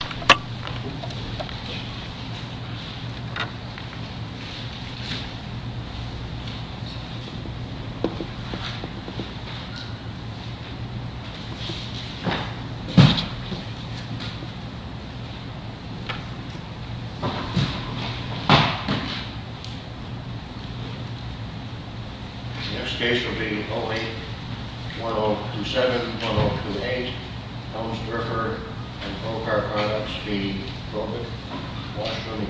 The next case will be O8-1027-1028 Helmsderfer v. Bobrick Washroom The next case will be O8-1027-1028 Helmsderfer v. Bobrick Washroom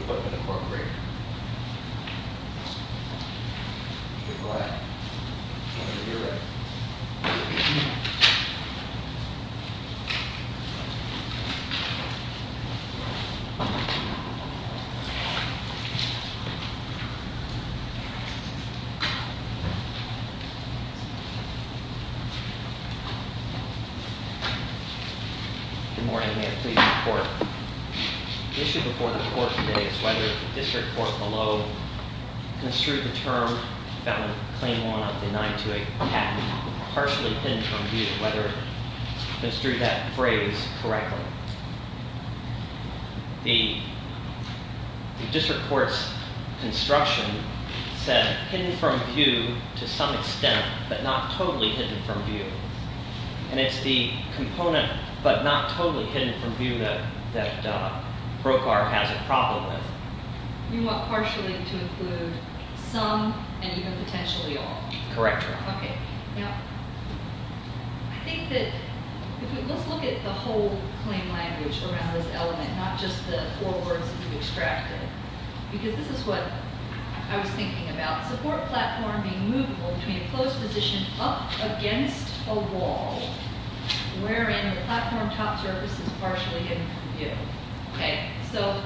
The issue before the court today is whether the district court below construed the term found in Claim 1 of the 928 patent, partially hidden from view, whether it construed that phrase correctly. The district court's construction said hidden from view to some extent, but not totally hidden from view. And it's the component, but not totally hidden from view that Brokaw has a problem with. You want partially to include some and even potentially all? Correct. Okay. Now, I think that, let's look at the whole claim language around this element, not just the four words that you've extracted. Because this is what I was thinking about. Support platform being movable between a closed position up against a wall, wherein the platform top surface is partially hidden from view. Okay? So,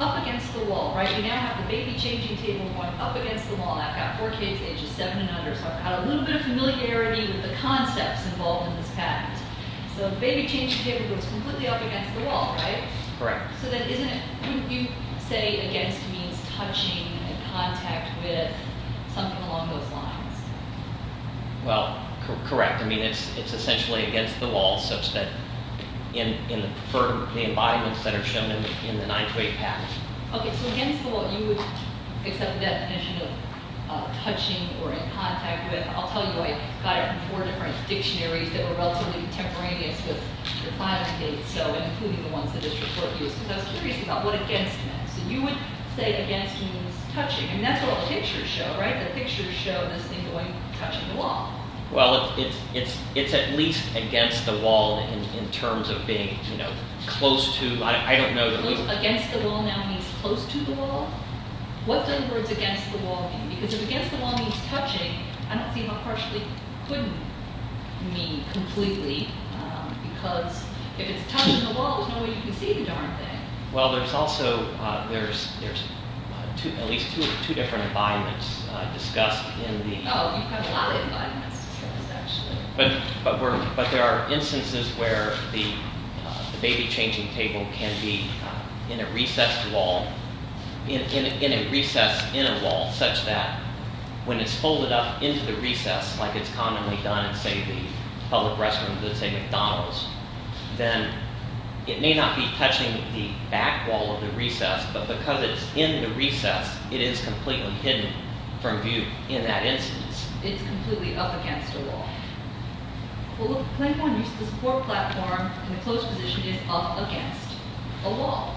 up against the wall, right? You now have the baby changing table going up against the wall. I've got four kids ages 7 and under, so I've got a little bit of familiarity with the concepts involved in this patent. So the baby changing table goes completely up against the wall, right? Correct. So then, wouldn't you say against means touching and in contact with something along those lines? Well, correct. I mean, it's essentially against the wall such that in the preferred embodiments that are shown in the 928 patent. Okay. So, against the wall, you would accept the definition of touching or in contact with. I'll tell you, I got it from four different dictionaries that were relatively contemporaneous with the client's case. I was curious about what against meant. So you would say against means touching. I mean, that's what the pictures show, right? The pictures show this thing touching the wall. Well, it's at least against the wall in terms of being close to. I don't know. Against the wall now means close to the wall? What does the words against the wall mean? Because if against the wall means touching, I don't see how partially couldn't mean completely. Because if it's touching the wall, there's no way you can see the darn thing. Well, there's also, there's at least two different embodiments discussed in the. Oh, you have a lot of embodiments discussed actually. But there are instances where the baby changing table can be in a recessed wall, in a recessed inner wall such that when it's folded up into the recess, like it's commonly done in, say, the public restrooms at, say, McDonald's, then it may not be touching the back wall of the recess, but because it's in the recess, it is completely hidden from view in that instance. It's completely up against a wall. Well, the claimant used the support platform in the closed position is up against a wall.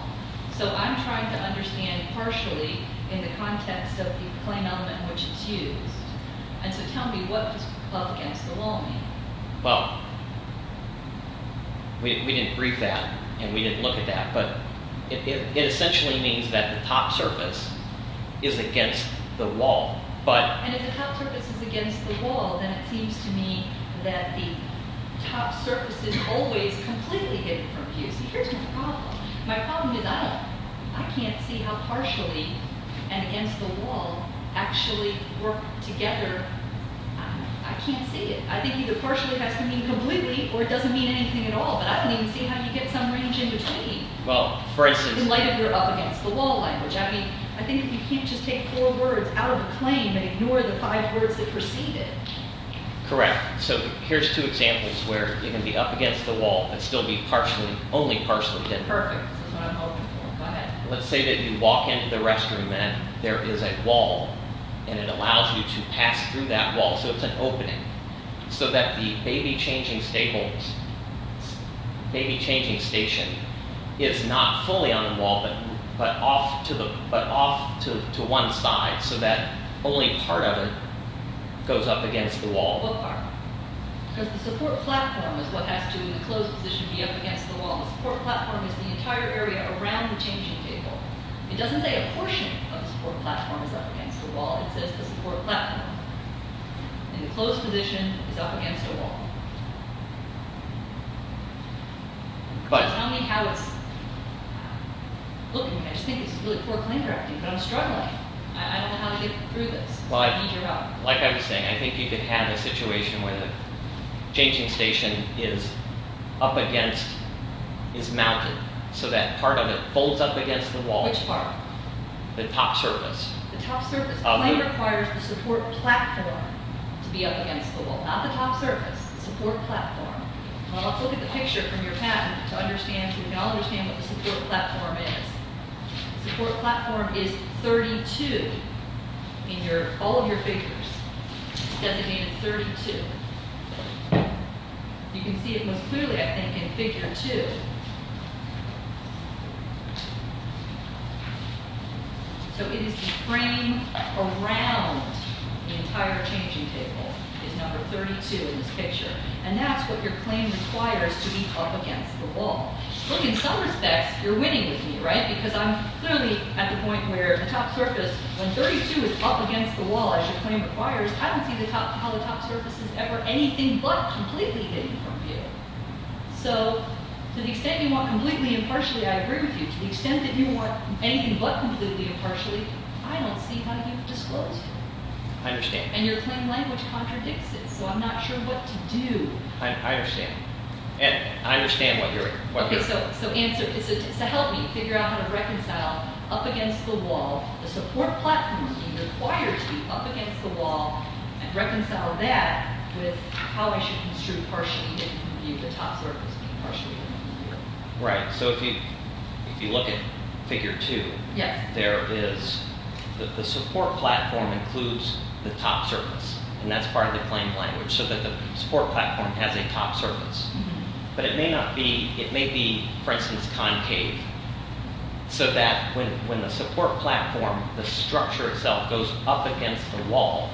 So I'm trying to understand partially in the context of the claim element in which it's used. And so tell me what up against the wall means. Well, we didn't brief that, and we didn't look at that, but it essentially means that the top surface is against the wall, but. And if the top surface is against the wall, then it seems to me that the top surface is always completely hidden from view. See, here's my problem. My problem is I can't see how partially and against the wall actually work together. I can't see it. I think either partially has to mean completely or it doesn't mean anything at all, but I don't even see how you get some range in between. Well, for instance. In light of your up against the wall language. I mean, I think you can't just take four words out of a claim and ignore the five words that precede it. Correct. So here's two examples where you can be up against the wall and still be partially only partially. Perfect. Let's say that you walk into the restroom and there is a wall and it allows you to pass through that wall. So it's an opening so that the baby changing staples may be changing station is not fully on the wall, but but off to the but off to one side so that only part of it goes up against the wall. Because the support platform is what has to in the closed position be up against the wall. The support platform is the entire area around the changing table. It doesn't say a portion of the support platform is up against the wall. It says the support platform in the closed position is up against the wall. But tell me how it's looking. I just think it's really poor claim directing, but I'm struggling. I don't know how to get through this. Like I was saying, I think you could have a situation where the changing station is up against is mounted so that part of it folds up against the wall. Which part? The top surface. The top surface only requires the support platform to be up against the wall. Not the top surface. Support platform. Well, let's look at the picture from your patent to understand. You can all understand what the support platform is. Support platform is 32 in all of your figures. It's designated 32. You can see it most clearly, I think, in figure 2. So it is the frame around the entire changing table is number 32 in this picture. And that's what your claim requires to be up against the wall. Look, in some respects, you're winning with me, right? Because I'm clearly at the point where the top surface, when 32 is up against the wall, as your claim requires, I don't see how the top surface is ever anything but completely hidden from view. So to the extent you want completely impartially, I agree with you. To the extent that you want anything but completely impartially, I don't see how you've disclosed it. I understand. And your claim language contradicts it, so I'm not sure what to do. I understand. And I understand what you're— Okay, so answer. So help me figure out how to reconcile up against the wall, the support platform being required to be up against the wall, and reconcile that with how I should construe partially hidden from view, the top surface being partially hidden from view. Right. So if you look at figure 2, there is—the support platform includes the top surface. And that's part of the claim language, so that the support platform has a top surface. But it may not be—it may be, for instance, concave, so that when the support platform, the structure itself goes up against the wall,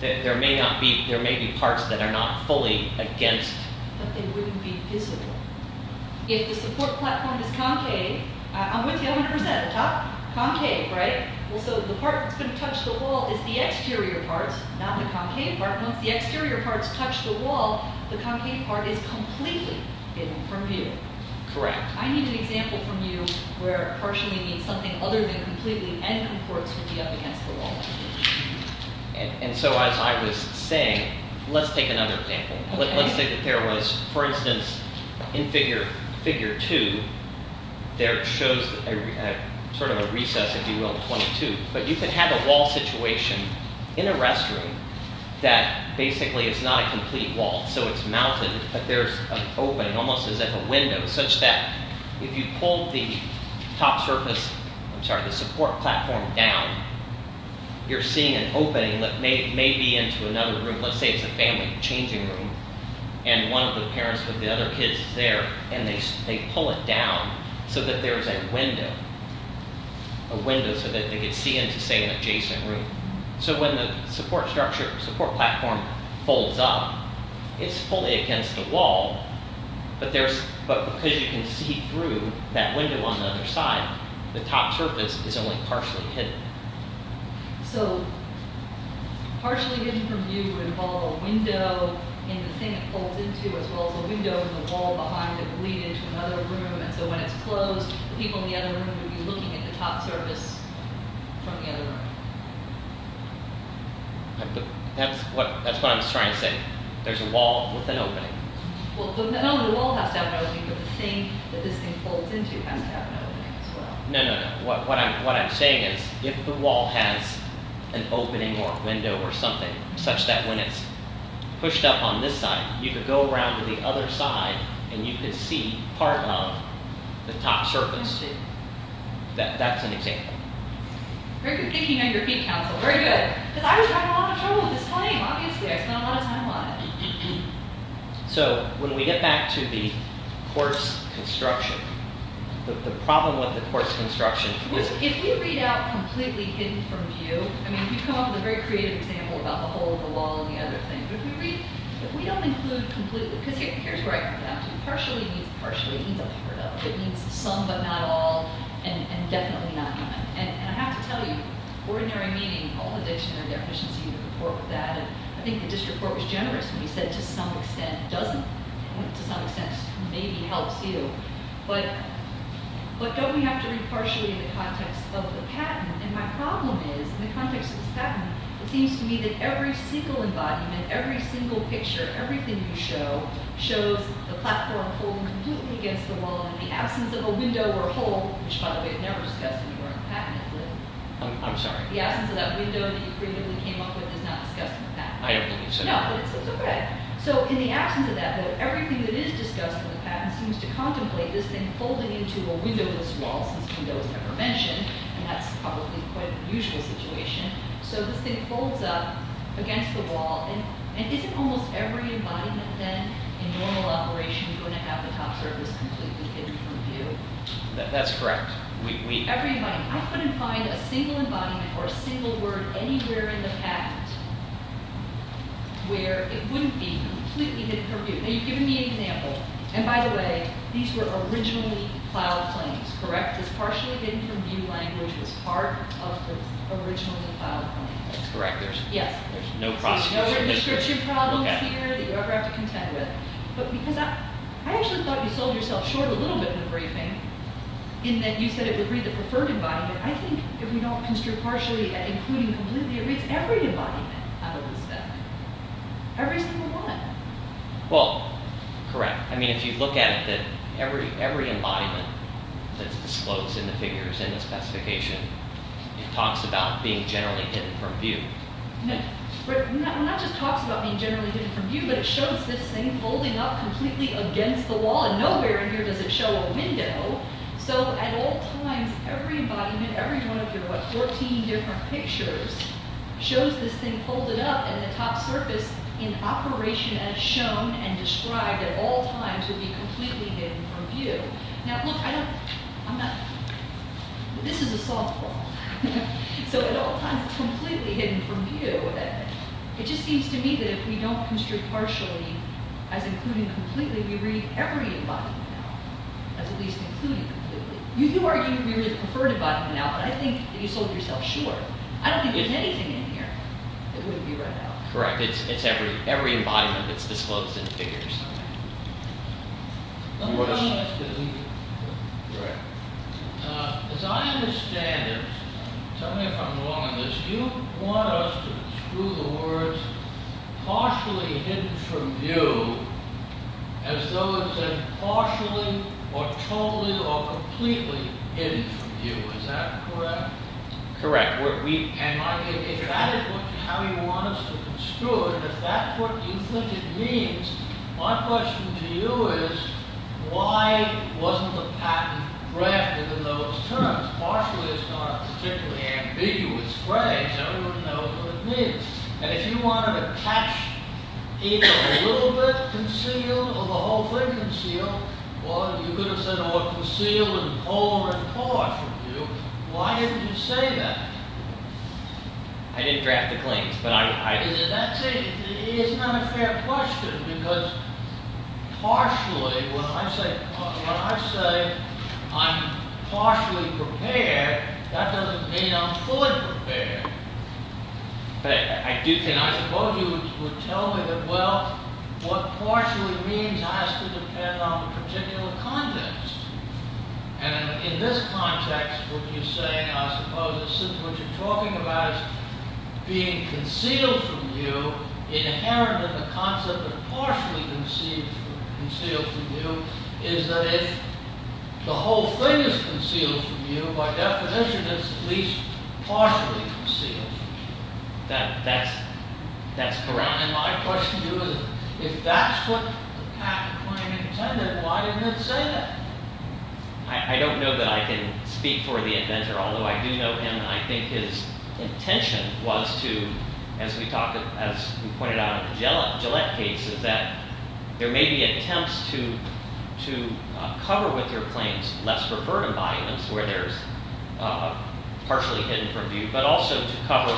there may not be—there may be parts that are not fully against. But they wouldn't be visible. If the support platform is concave, I'm with you 100 percent. Top? Concave, right? Well, so the part that's going to touch the wall is the exterior part, not the concave part. Once the exterior parts touch the wall, the concave part is completely hidden from view. Correct. I need an example from you where partially means something other than completely, and concordance would be up against the wall. And so as I was saying, let's take another example. Let's say that there was, for instance, in figure 2, there shows sort of a recess, if you will, in 22. But you could have a wall situation in a restroom that basically is not a complete wall. So it's mounted, but there's an opening, almost as if a window, such that if you pull the top surface—I'm sorry, the support platform down, you're seeing an opening that may be into another room. Let's say it's a family changing room, and one of the parents of the other kids is there, and they pull it down so that there's a window, a window so that they could see into, say, an adjacent room. So when the support platform folds up, it's fully against the wall, but because you can see through that window on the other side, the top surface is only partially hidden. So partially hidden from view would involve a window in the thing it folds into, as well as a window in the wall behind it would lead into another room. And so when it's closed, the people in the other room would be looking at the top surface from the other room. That's what I'm trying to say. There's a wall with an opening. Well, not only the wall has to have an opening, but the thing that this thing folds into has to have an opening as well. No, no, no. What I'm saying is, if the wall has an opening or a window or something, such that when it's pushed up on this side, you could go around to the other side, and you could see part of the top surface too. That's an example. Very good thinking on your feet, Counsel. Very good. Because I was having a lot of trouble with this time, obviously. I spent a lot of time on it. So, when we get back to the coarse construction, the problem with the coarse construction is... If we read out completely hidden from view, I mean, you come up with a very creative example about the hole, the wall, and the other thing. But if we don't include completely, because here's where I come down to, partially means partially hidden from view. It means some but not all, and definitely not none. And I have to tell you, ordinary meaning, all the dictionary definitions, you can report that. I think the district court was generous when we said, to some extent, doesn't. To some extent, maybe helps you. But don't we have to repartee in the context of the patent? And my problem is, in the context of the patent, it seems to me that every single embodiment, every single picture, everything you show, shows the platform holding completely against the wall in the absence of a window or a hole, which, by the way, never discussed in the patent. I'm sorry? The absence of that window that you creatively came up with is not discussed in the patent. I don't believe so. No, but it's okay. So, in the absence of that window, everything that is discussed in the patent seems to contemplate this thing folding into a windowless wall, since window is never mentioned, and that's probably quite a usual situation. So, this thing folds up against the wall. And isn't almost every embodiment then, in normal operation, going to have the top surface completely hidden from view? That's correct. Every embodiment. I couldn't find a single embodiment or a single word anywhere in the patent where it wouldn't be completely hidden from view. Now, you've given me an example. And, by the way, these were originally cloud planes, correct? This partially hidden from view language was part of the original cloud plane. That's correct. Yes. There's no process. No registration problems here that you ever have to contend with. But because I actually thought you sold yourself short a little bit in the briefing, in that you said it would read the preferred embodiment. I think if we don't construe partially and including completely, it reads every embodiment out of this thing. Every single one. Well, correct. I mean, if you look at it, every embodiment that's disclosed in the figures, in the specification, it talks about being generally hidden from view. It not just talks about being generally hidden from view, but it shows this thing folding up completely against the wall. And nowhere in here does it show a window. So, at all times, every embodiment, every one of your, what, 14 different pictures, shows this thing folded up and the top surface in operation as shown and described at all times would be completely hidden from view. Now, look, I don't, I'm not, this is a softball. So, at all times, it's completely hidden from view. It just seems to me that if we don't construe partially as including completely, we read every embodiment out, as at least including completely. You do argue we read the preferred embodiment out, but I think that you sold yourself short. I don't think there's anything in here that wouldn't be read out. Correct. It's every embodiment that's disclosed in the figures. Let me ask you a question. Correct. As I understand it, tell me if I'm wrong on this, you want us to construe the words partially hidden from view as though it was partially or totally or completely hidden from view. Is that correct? Correct. And if that is how you want us to construe it, if that's what you think it means, my question to you is why wasn't the pattern crafted in those terms? Partially is not a particularly ambiguous phrase. Everyone knows what it means. And if you wanted to catch either a little bit concealed or the whole thing concealed, or you could have said or concealed in whole or in part from view, why didn't you say that? I didn't draft the claims, but I... It's not a fair question because partially, when I say I'm partially prepared, that doesn't mean I'm fully prepared. I suppose you would tell me that, well, what partially means has to depend on the particular context. And in this context, what you're saying, I suppose, what you're talking about is being concealed from view, inherent in the concept of partially concealed from view, That's correct. And my question to you is if that's what the patent claim intended, why didn't it say that? I don't know that I can speak for the inventor, although I do know him, and I think his intention was to, as we pointed out in the Gillette case, is that there may be attempts to cover with their claims less preferred embodiments, where there's partially hidden from view, but also to cover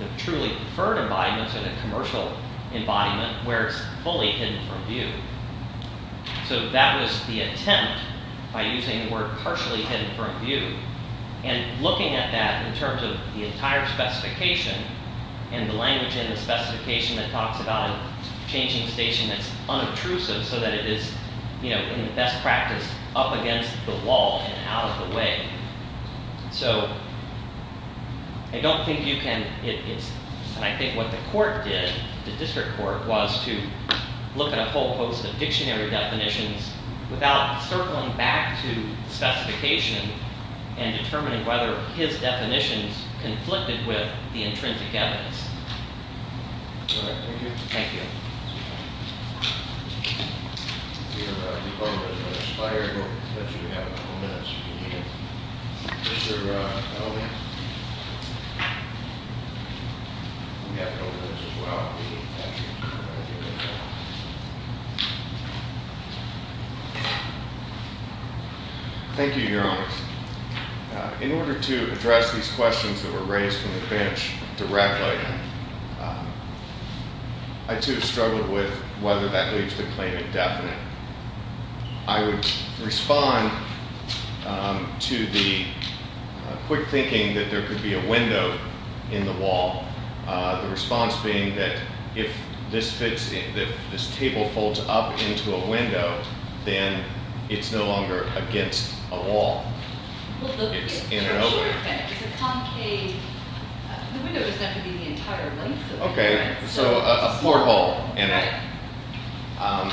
the truly preferred embodiments or the commercial embodiment where it's fully hidden from view. So that was the attempt by using the word partially hidden from view. And looking at that in terms of the entire specification and the language in the specification that talks about changing station that's unobtrusive so that it is in the best practice up against the wall and out of the way. So I don't think you can, and I think what the court did, the district court, was to look at a whole host of dictionary definitions without circling back to specification and determining whether his definitions conflicted with the intrinsic evidence. All right, thank you. Thank you. Thank you, Your Honor. In order to address these questions that were raised from the bench directly, I too struggled with whether that leaves the claim indefinite. I would respond to the quick thinking that there could be a window in the wall, the response being that if this table folds up into a window, then it's no longer against a wall. It's in and over. It's a concave, the window is never going to be the entire length of it. Okay, so a floor hole in it. Right.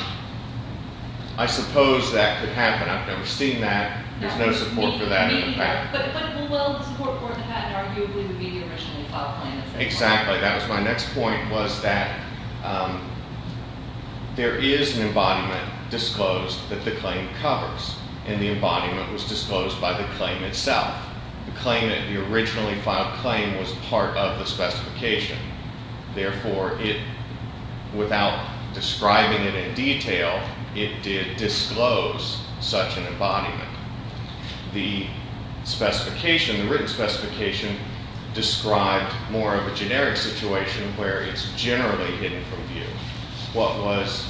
I suppose that could happen. I've never seen that. There's no support for that in the past. Well, the support for that arguably would be the original file plan. Exactly, that was my next point, was that there is an embodiment disclosed that the claim covers, and the embodiment was disclosed by the claim itself. The claim that the originally filed claim was part of the specification. Therefore, without describing it in detail, it did disclose such an embodiment. The specification, the written specification, described more of a generic situation where it's generally hidden from view. What was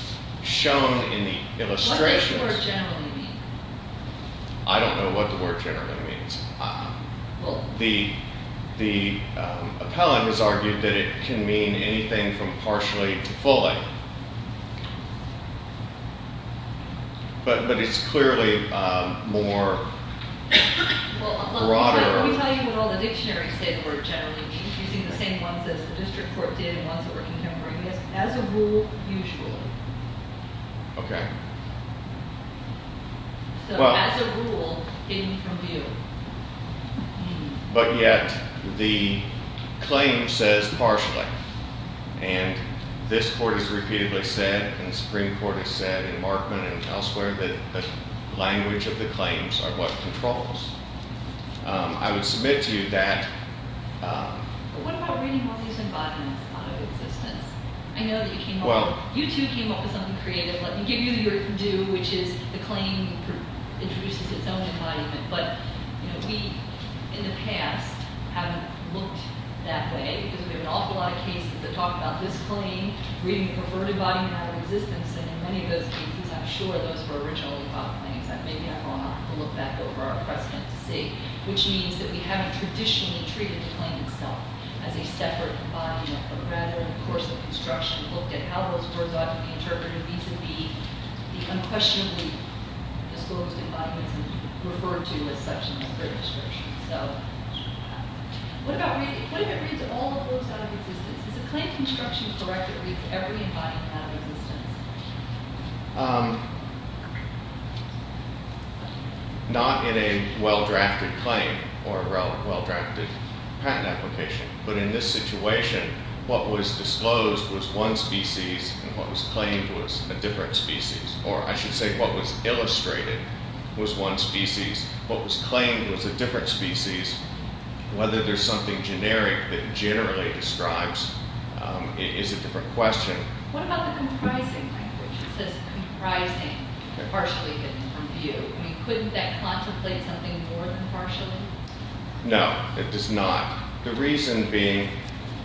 shown in the illustration. What does the word generally mean? I don't know what the word generally means. The appellant has argued that it can mean anything from partially to fully. But it's clearly more broader. Well, let me tell you what all the dictionaries say the word generally means, using the same ones as the district court did and ones that were contemporaneous. As a rule, usually. Okay. So as a rule, hidden from view. But yet, the claim says partially. And this court has repeatedly said, and the Supreme Court has said, and Markman and elsewhere, that the language of the claims are what controls. I would submit to you that. But what about reading all these embodiments out of existence? I know that you came up with something creative. Let me give you your due, which is the claim introduces its own embodiment. But we, in the past, haven't looked that way. Because we have an awful lot of cases that talk about this claim, reading the perverted embodiment out of existence. And in many of those cases, I'm sure those were originally thought claims. Maybe I won't have to look back over our precedent to see. Which means that we haven't traditionally treated the claim itself as a separate embodiment, but rather, in the course of construction, looked at how those words ought to be interpreted, vis-a-vis the unquestionably disclosed embodiments referred to as such in this great description. So what if it reads all the words out of existence? Is the claim construction correct if every embodiment out of existence? Not in a well-drafted claim or a well-drafted patent application. But in this situation, what was disclosed was one species, and what was claimed was a different species. Or I should say, what was illustrated was one species. What was claimed was a different species. Whether there's something generic that generally describes it is a different question. What about the comprising language? It says comprising, but partially in a different view. I mean, couldn't that contemplate something more than partially? No, it does not. The reason being,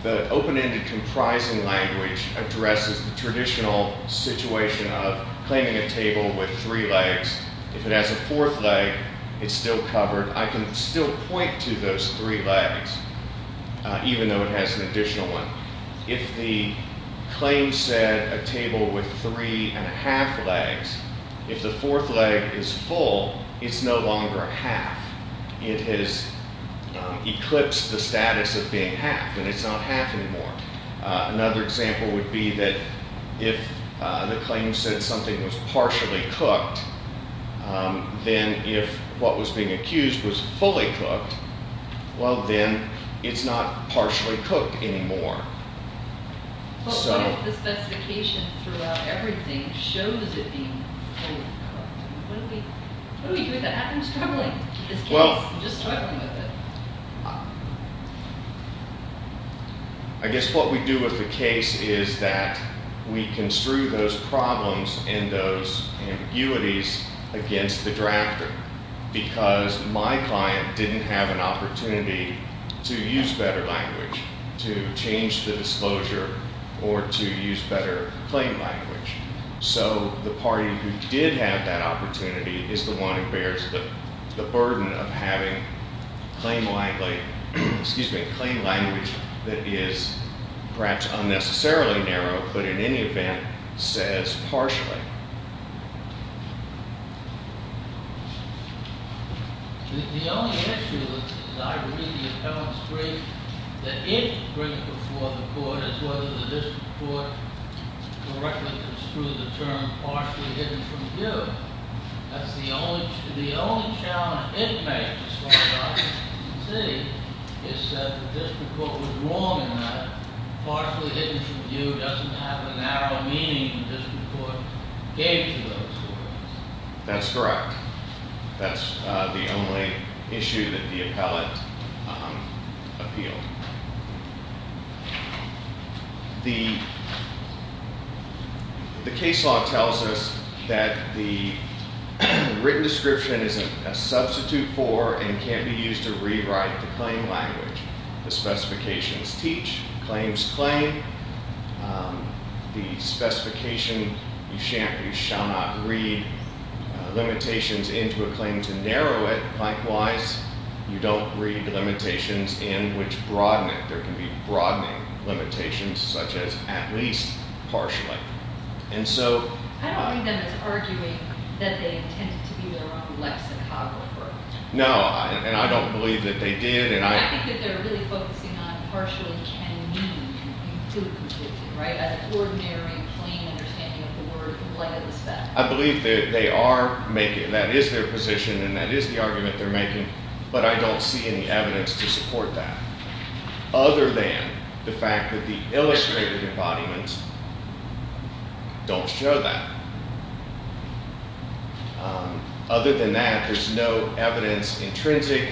the open-ended comprising language addresses the traditional situation of claiming a table with three legs. If it has a fourth leg, it's still covered. I can still point to those three legs, even though it has an additional one. If the claim said a table with three and a half legs, if the fourth leg is full, it's no longer half. It has eclipsed the status of being half, and it's not half anymore. Another example would be that if the claim said something was partially cooked, then if what was being accused was fully cooked, well, then it's not partially cooked anymore. But what if the specification throughout everything shows it being fully cooked? What do we do if that happens? I'm struggling with this case. I'm just struggling with it. I guess what we do with the case is that we construe those problems and those ambiguities against the drafter, because my client didn't have an opportunity to use better language, to change the disclosure, or to use better claim language. So the party who did have that opportunity is the one who bears the burden of having claim language that is perhaps unnecessarily narrow, but in any event, says partially. The only issue, as I read the appellant's brief, that it brings before the court is whether the district court correctly construed the term partially hidden from view. That's the only challenge it makes as far as I can see, is that the district court was wrong in that. Partially hidden from view doesn't have a narrow meaning the district court gave to those words. That's correct. That's the only issue that the appellant appealed. The case law tells us that the written description is a substitute for and can't be used to rewrite the claim language. The specifications teach. Claims claim. The specification, you shall not read limitations into a claim to narrow it. Likewise, you don't read limitations in which broaden it. There can be broadening limitations, such as at least partially. I don't read them as arguing that they intended to be their own lexicographer. No, and I don't believe that they did. I think that they're really focusing on partially, can mean, and include completely, right? An ordinary, plain understanding of the word. I believe that they are making, that is their position, and that is the argument they're making, but I don't see any evidence to support that, other than the fact that the illustrated embodiments don't show that. Other than that, there's no evidence intrinsic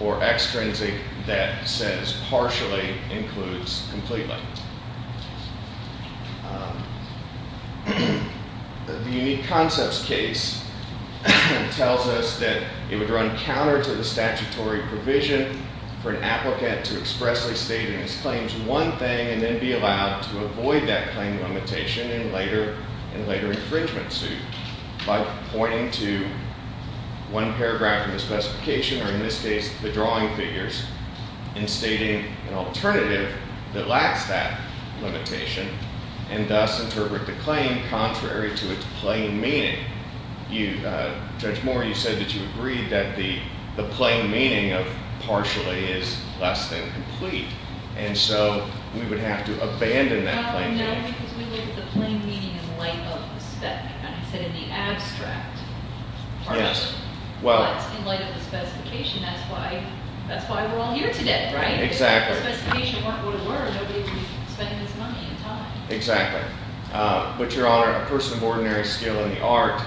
or extrinsic that says partially includes completely. The unique concepts case tells us that it would run counter to the statutory provision for an applicant to expressly state in his claims one thing and then be allowed to avoid that claim limitation in later infringement suit by pointing to one paragraph in the specification, or in this case the drawing figures, and stating an alternative that lacks that limitation and thus interpret the claim contrary to its plain meaning. Judge Moore, you said that you agreed that the plain meaning of partially is less than complete, and so we would have to abandon that plain meaning. No, because we look at the plain meaning in light of the spec, and I said in the abstract. Yes. But in light of the specification, that's why we're all here today, right? Exactly. If the specification weren't what it were, nobody would be spending this money and time. Exactly. But, Your Honor, a person of ordinary skill in the art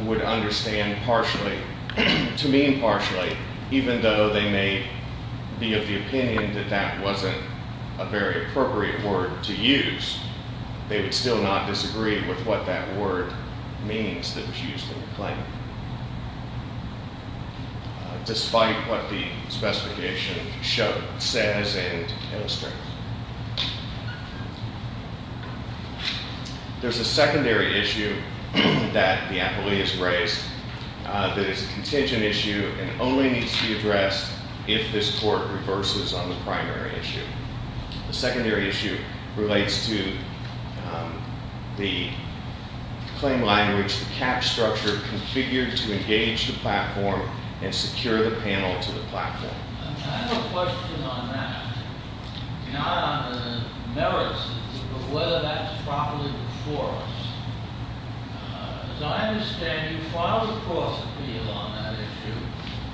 would understand partially, to mean partially, even though they may be of the opinion that that wasn't a very appropriate word to use, they would still not disagree with what that word means that was used in the claim, despite what the specification says and illustrates. There's a secondary issue that the appellee has raised that is a contingent issue and only needs to be addressed if this court reverses on the primary issue. The secondary issue relates to the claim language, the cap structure configured to engage the platform and secure the panel to the platform. I have a question on that, not on the merits of it, but whether that's properly enforced. As I understand, you filed a course appeal on that issue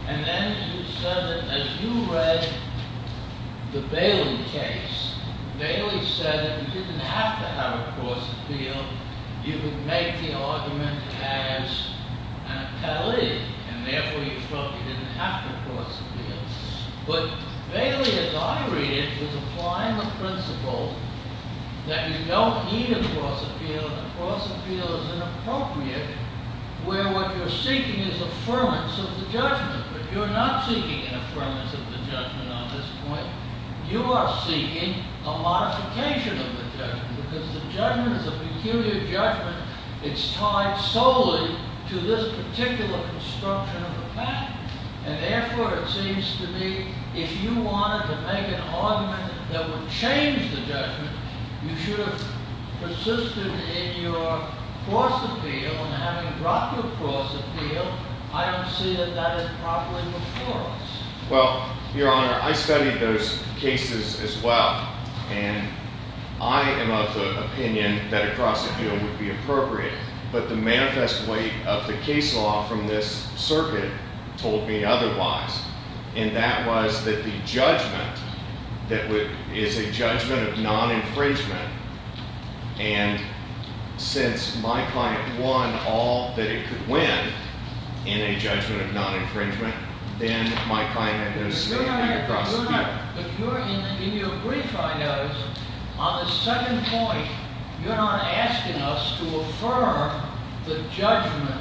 and then you said that as you read the Bailey case, Bailey said that if you didn't have to have a course appeal, you could make the argument as an appellee and therefore you felt you didn't have to course appeal. But Bailey, as I read it, was applying the principle that you don't need a course appeal, and a course appeal is inappropriate where what you're seeking is affirmance of the judgment. But you're not seeking an affirmance of the judgment on this point. You are seeking a modification of the judgment because the judgment is a peculiar judgment. It's tied solely to this particular construction of the platform. And therefore, it seems to me, if you wanted to make an argument that would change the judgment, you should have persisted in your course appeal and having dropped your course appeal. I don't see that that is properly enforced. Well, Your Honor, I studied those cases as well, and I am of the opinion that a course appeal would be appropriate. But the manifest weight of the case law from this circuit told me otherwise. And that was that the judgment is a judgment of non-infringement. And since my client won all that it could win in a judgment of non-infringement, then my client had no say in the course appeal. But Your Honor, in your brief I noticed, on the second point, you're not asking us to affirm the judgment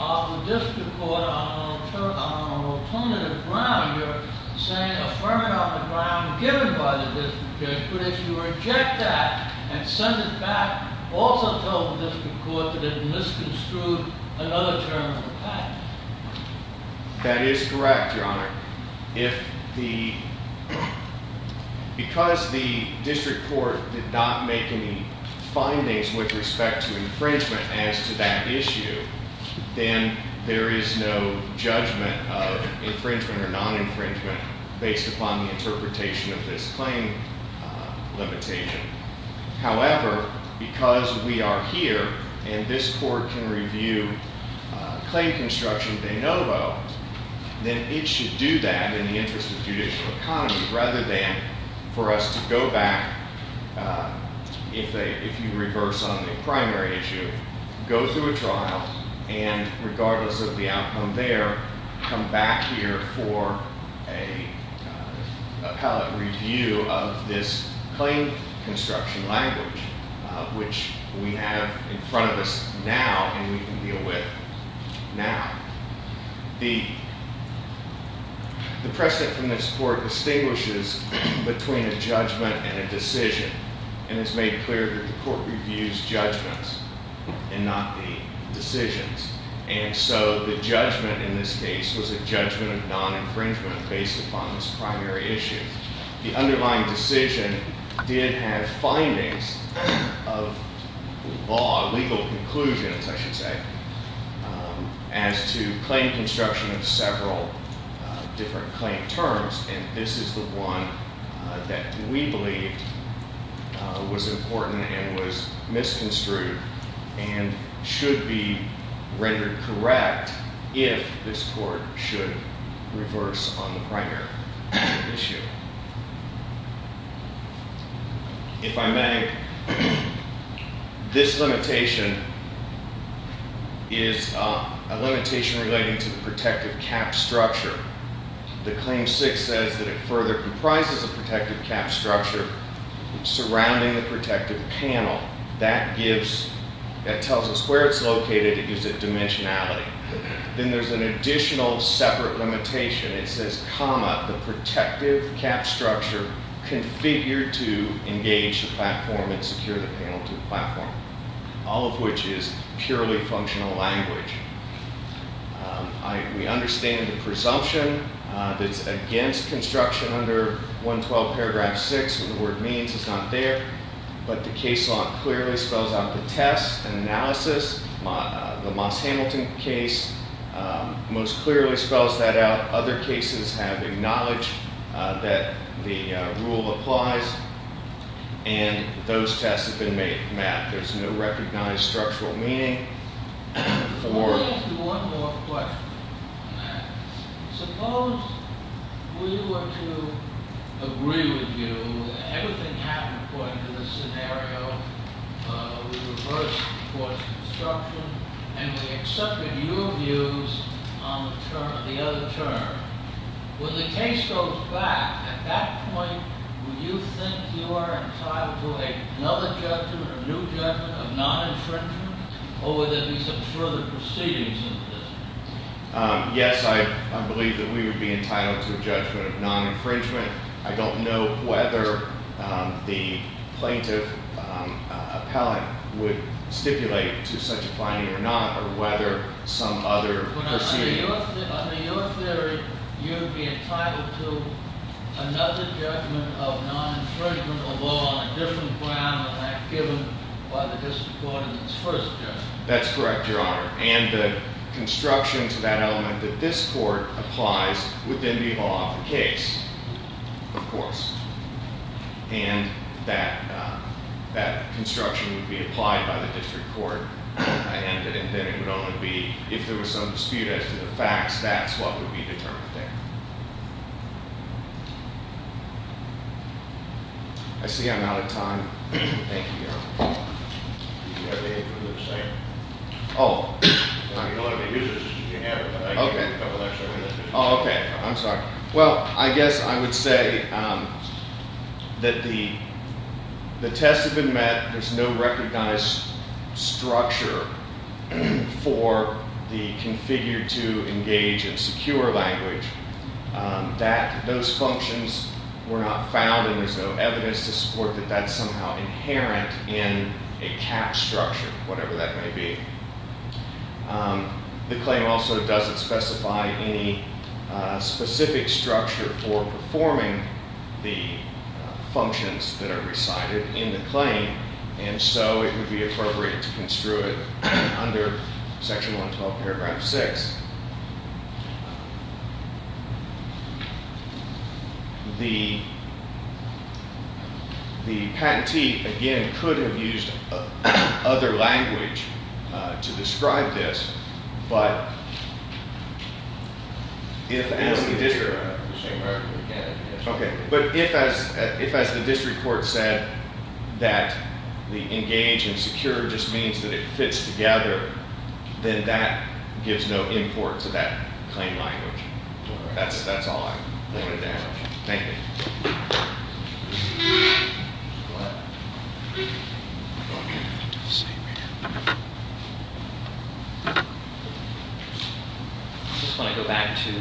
of the district court on an alternative ground. You're saying affirm it on the ground given by the district court. But if you reject that and send it back, also tell the district court that it misconstrued another term of the patent. That is correct, Your Honor. Because the district court did not make any findings with respect to infringement as to that issue, then there is no judgment of infringement or non-infringement based upon the interpretation of this claim limitation. However, because we are here and this court can review claim construction de novo, then it should do that in the interest of judicial economy rather than for us to go back, if you reverse on the primary issue, go through a trial and regardless of the outcome there, come back here for a pallet review of this claim construction language, which we have in front of us now and we can deal with now. The precedent from this court distinguishes between a judgment and a decision and it's made clear that the court reviews judgments and not the decisions. And so the judgment in this case was a judgment of non-infringement based upon this primary issue. The underlying decision did have findings of law, legal conclusions, I should say, as to claim construction of several different claim terms and this is the one that we believe was important and was misconstrued and should be rendered correct if this court should reverse on the primary issue. If I may, this limitation is a limitation relating to the protective cap structure. The Claim 6 says that it further comprises a protective cap structure surrounding the protective panel. That tells us where it's located. It gives it dimensionality. Then there's an additional separate limitation. It says, comma, the protective cap structure configured to engage the platform and secure the panel to the platform, all of which is purely functional language. We understand the presumption that's against construction under 112 paragraph 6. What the word means is not there, but the case law clearly spells out the test and analysis. The Moss Hamilton case most clearly spells that out. Other cases have acknowledged that the rule applies and those tests have been mapped. There's no recognized structural meaning Let me ask you one more question on that. Suppose we were to agree with you that everything happened according to this scenario. We reversed the course of construction and we accepted your views on the other term. When the case goes back, at that point, do you think you are entitled to another judgment, a new judgment of non-infringement, or would there be some further proceedings in this case? Yes, I believe that we would be entitled to a judgment of non-infringement. I don't know whether the plaintiff appellate would stipulate to such a finding or not or whether some other proceeding. Under your theory, you would be entitled to another judgment of non-infringement, a judgment of law on a different ground than that given by the district court in its first judgment. That's correct, Your Honor. And the construction to that element that this court applies would then be law of the case, of course. And that construction would be applied by the district court and then it would only be, if there was some dispute as to the facts, that's what would be determined there. I see I'm out of time. Thank you, Your Honor. Do you have anything to say? Oh. I mean, a lot of the users should have it, but I gave a couple of extra minutes. Oh, OK. I'm sorry. Well, I guess I would say that the tests have been met. There's no recognized structure for the configured to engage in secure language. That those functions were not found and there's no evidence to support that that's somehow inherent in a CAP structure, whatever that may be. The claim also doesn't specify any specific structure for performing the functions that are recited in the claim, and so it would be appropriate to construe it under Section 112, Paragraph 6. The patentee, again, could have used other language to describe this, but if as the district court said that the engage and secure just means that it fits together, then that gives no import to that claim language. That's all I wanted to add. Thank you. I just want to go back to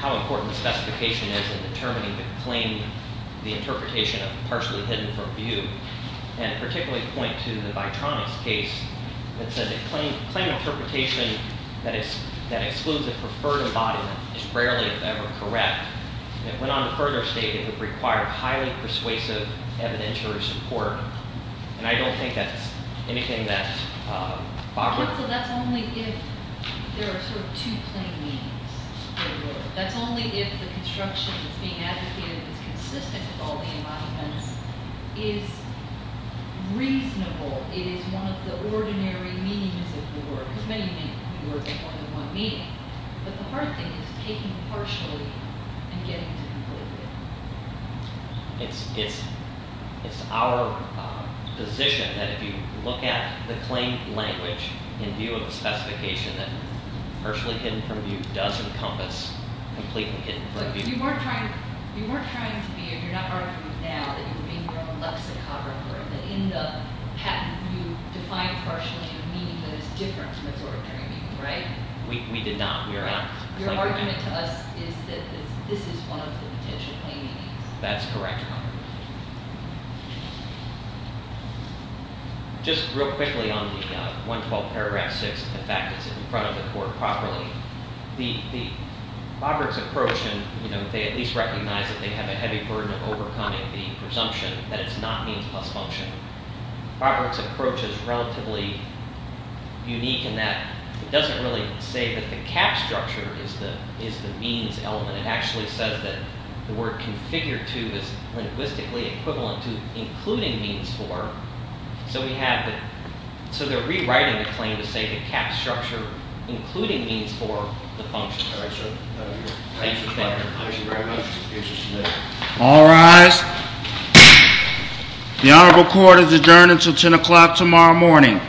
how important the specification is in determining the claim, the interpretation of partially hidden from view, and particularly point to the Vitronics case that says a claim interpretation that excludes a preferred embodiment is rarely ever correct. It went on to further state it would require highly persuasive evidentiary support, and I don't think that's anything that's popular. So that's only if there are sort of two plain means. That's only if the construction that's being advocated is consistent with all the embodiments is reasonable. It is one of the ordinary meanings of the word, because many of you work in more than one meaning. But the hard thing is taking partially and getting to completely. It's our position that if you look at the claim language in view of a specification that partially hidden from view does encompass completely hidden from view. But you weren't trying to be, if you're not arguing now, that you were being your own lexicographer, that in the patent you defined partially a meaning that is different from its ordinary meaning, right? We did not. We are not. Your argument to us is that this is one of the potential plain meanings. That's correct. Just real quickly on the 112th paragraph 6, the fact that it's in front of the court properly. Bobrick's approach, and they at least recognize that they have a heavy burden of overcoming the presumption that it's not means plus function. Bobrick's approach is relatively unique in that it doesn't really say that the cap structure is the means element. It actually says that the word configured to is linguistically equivalent to including means for. So they're rewriting the claim to say cap structure including means for the function. All right, sir. Thank you. Thank you very much. All rise. The honorable court is adjourned until 10 o'clock tomorrow morning.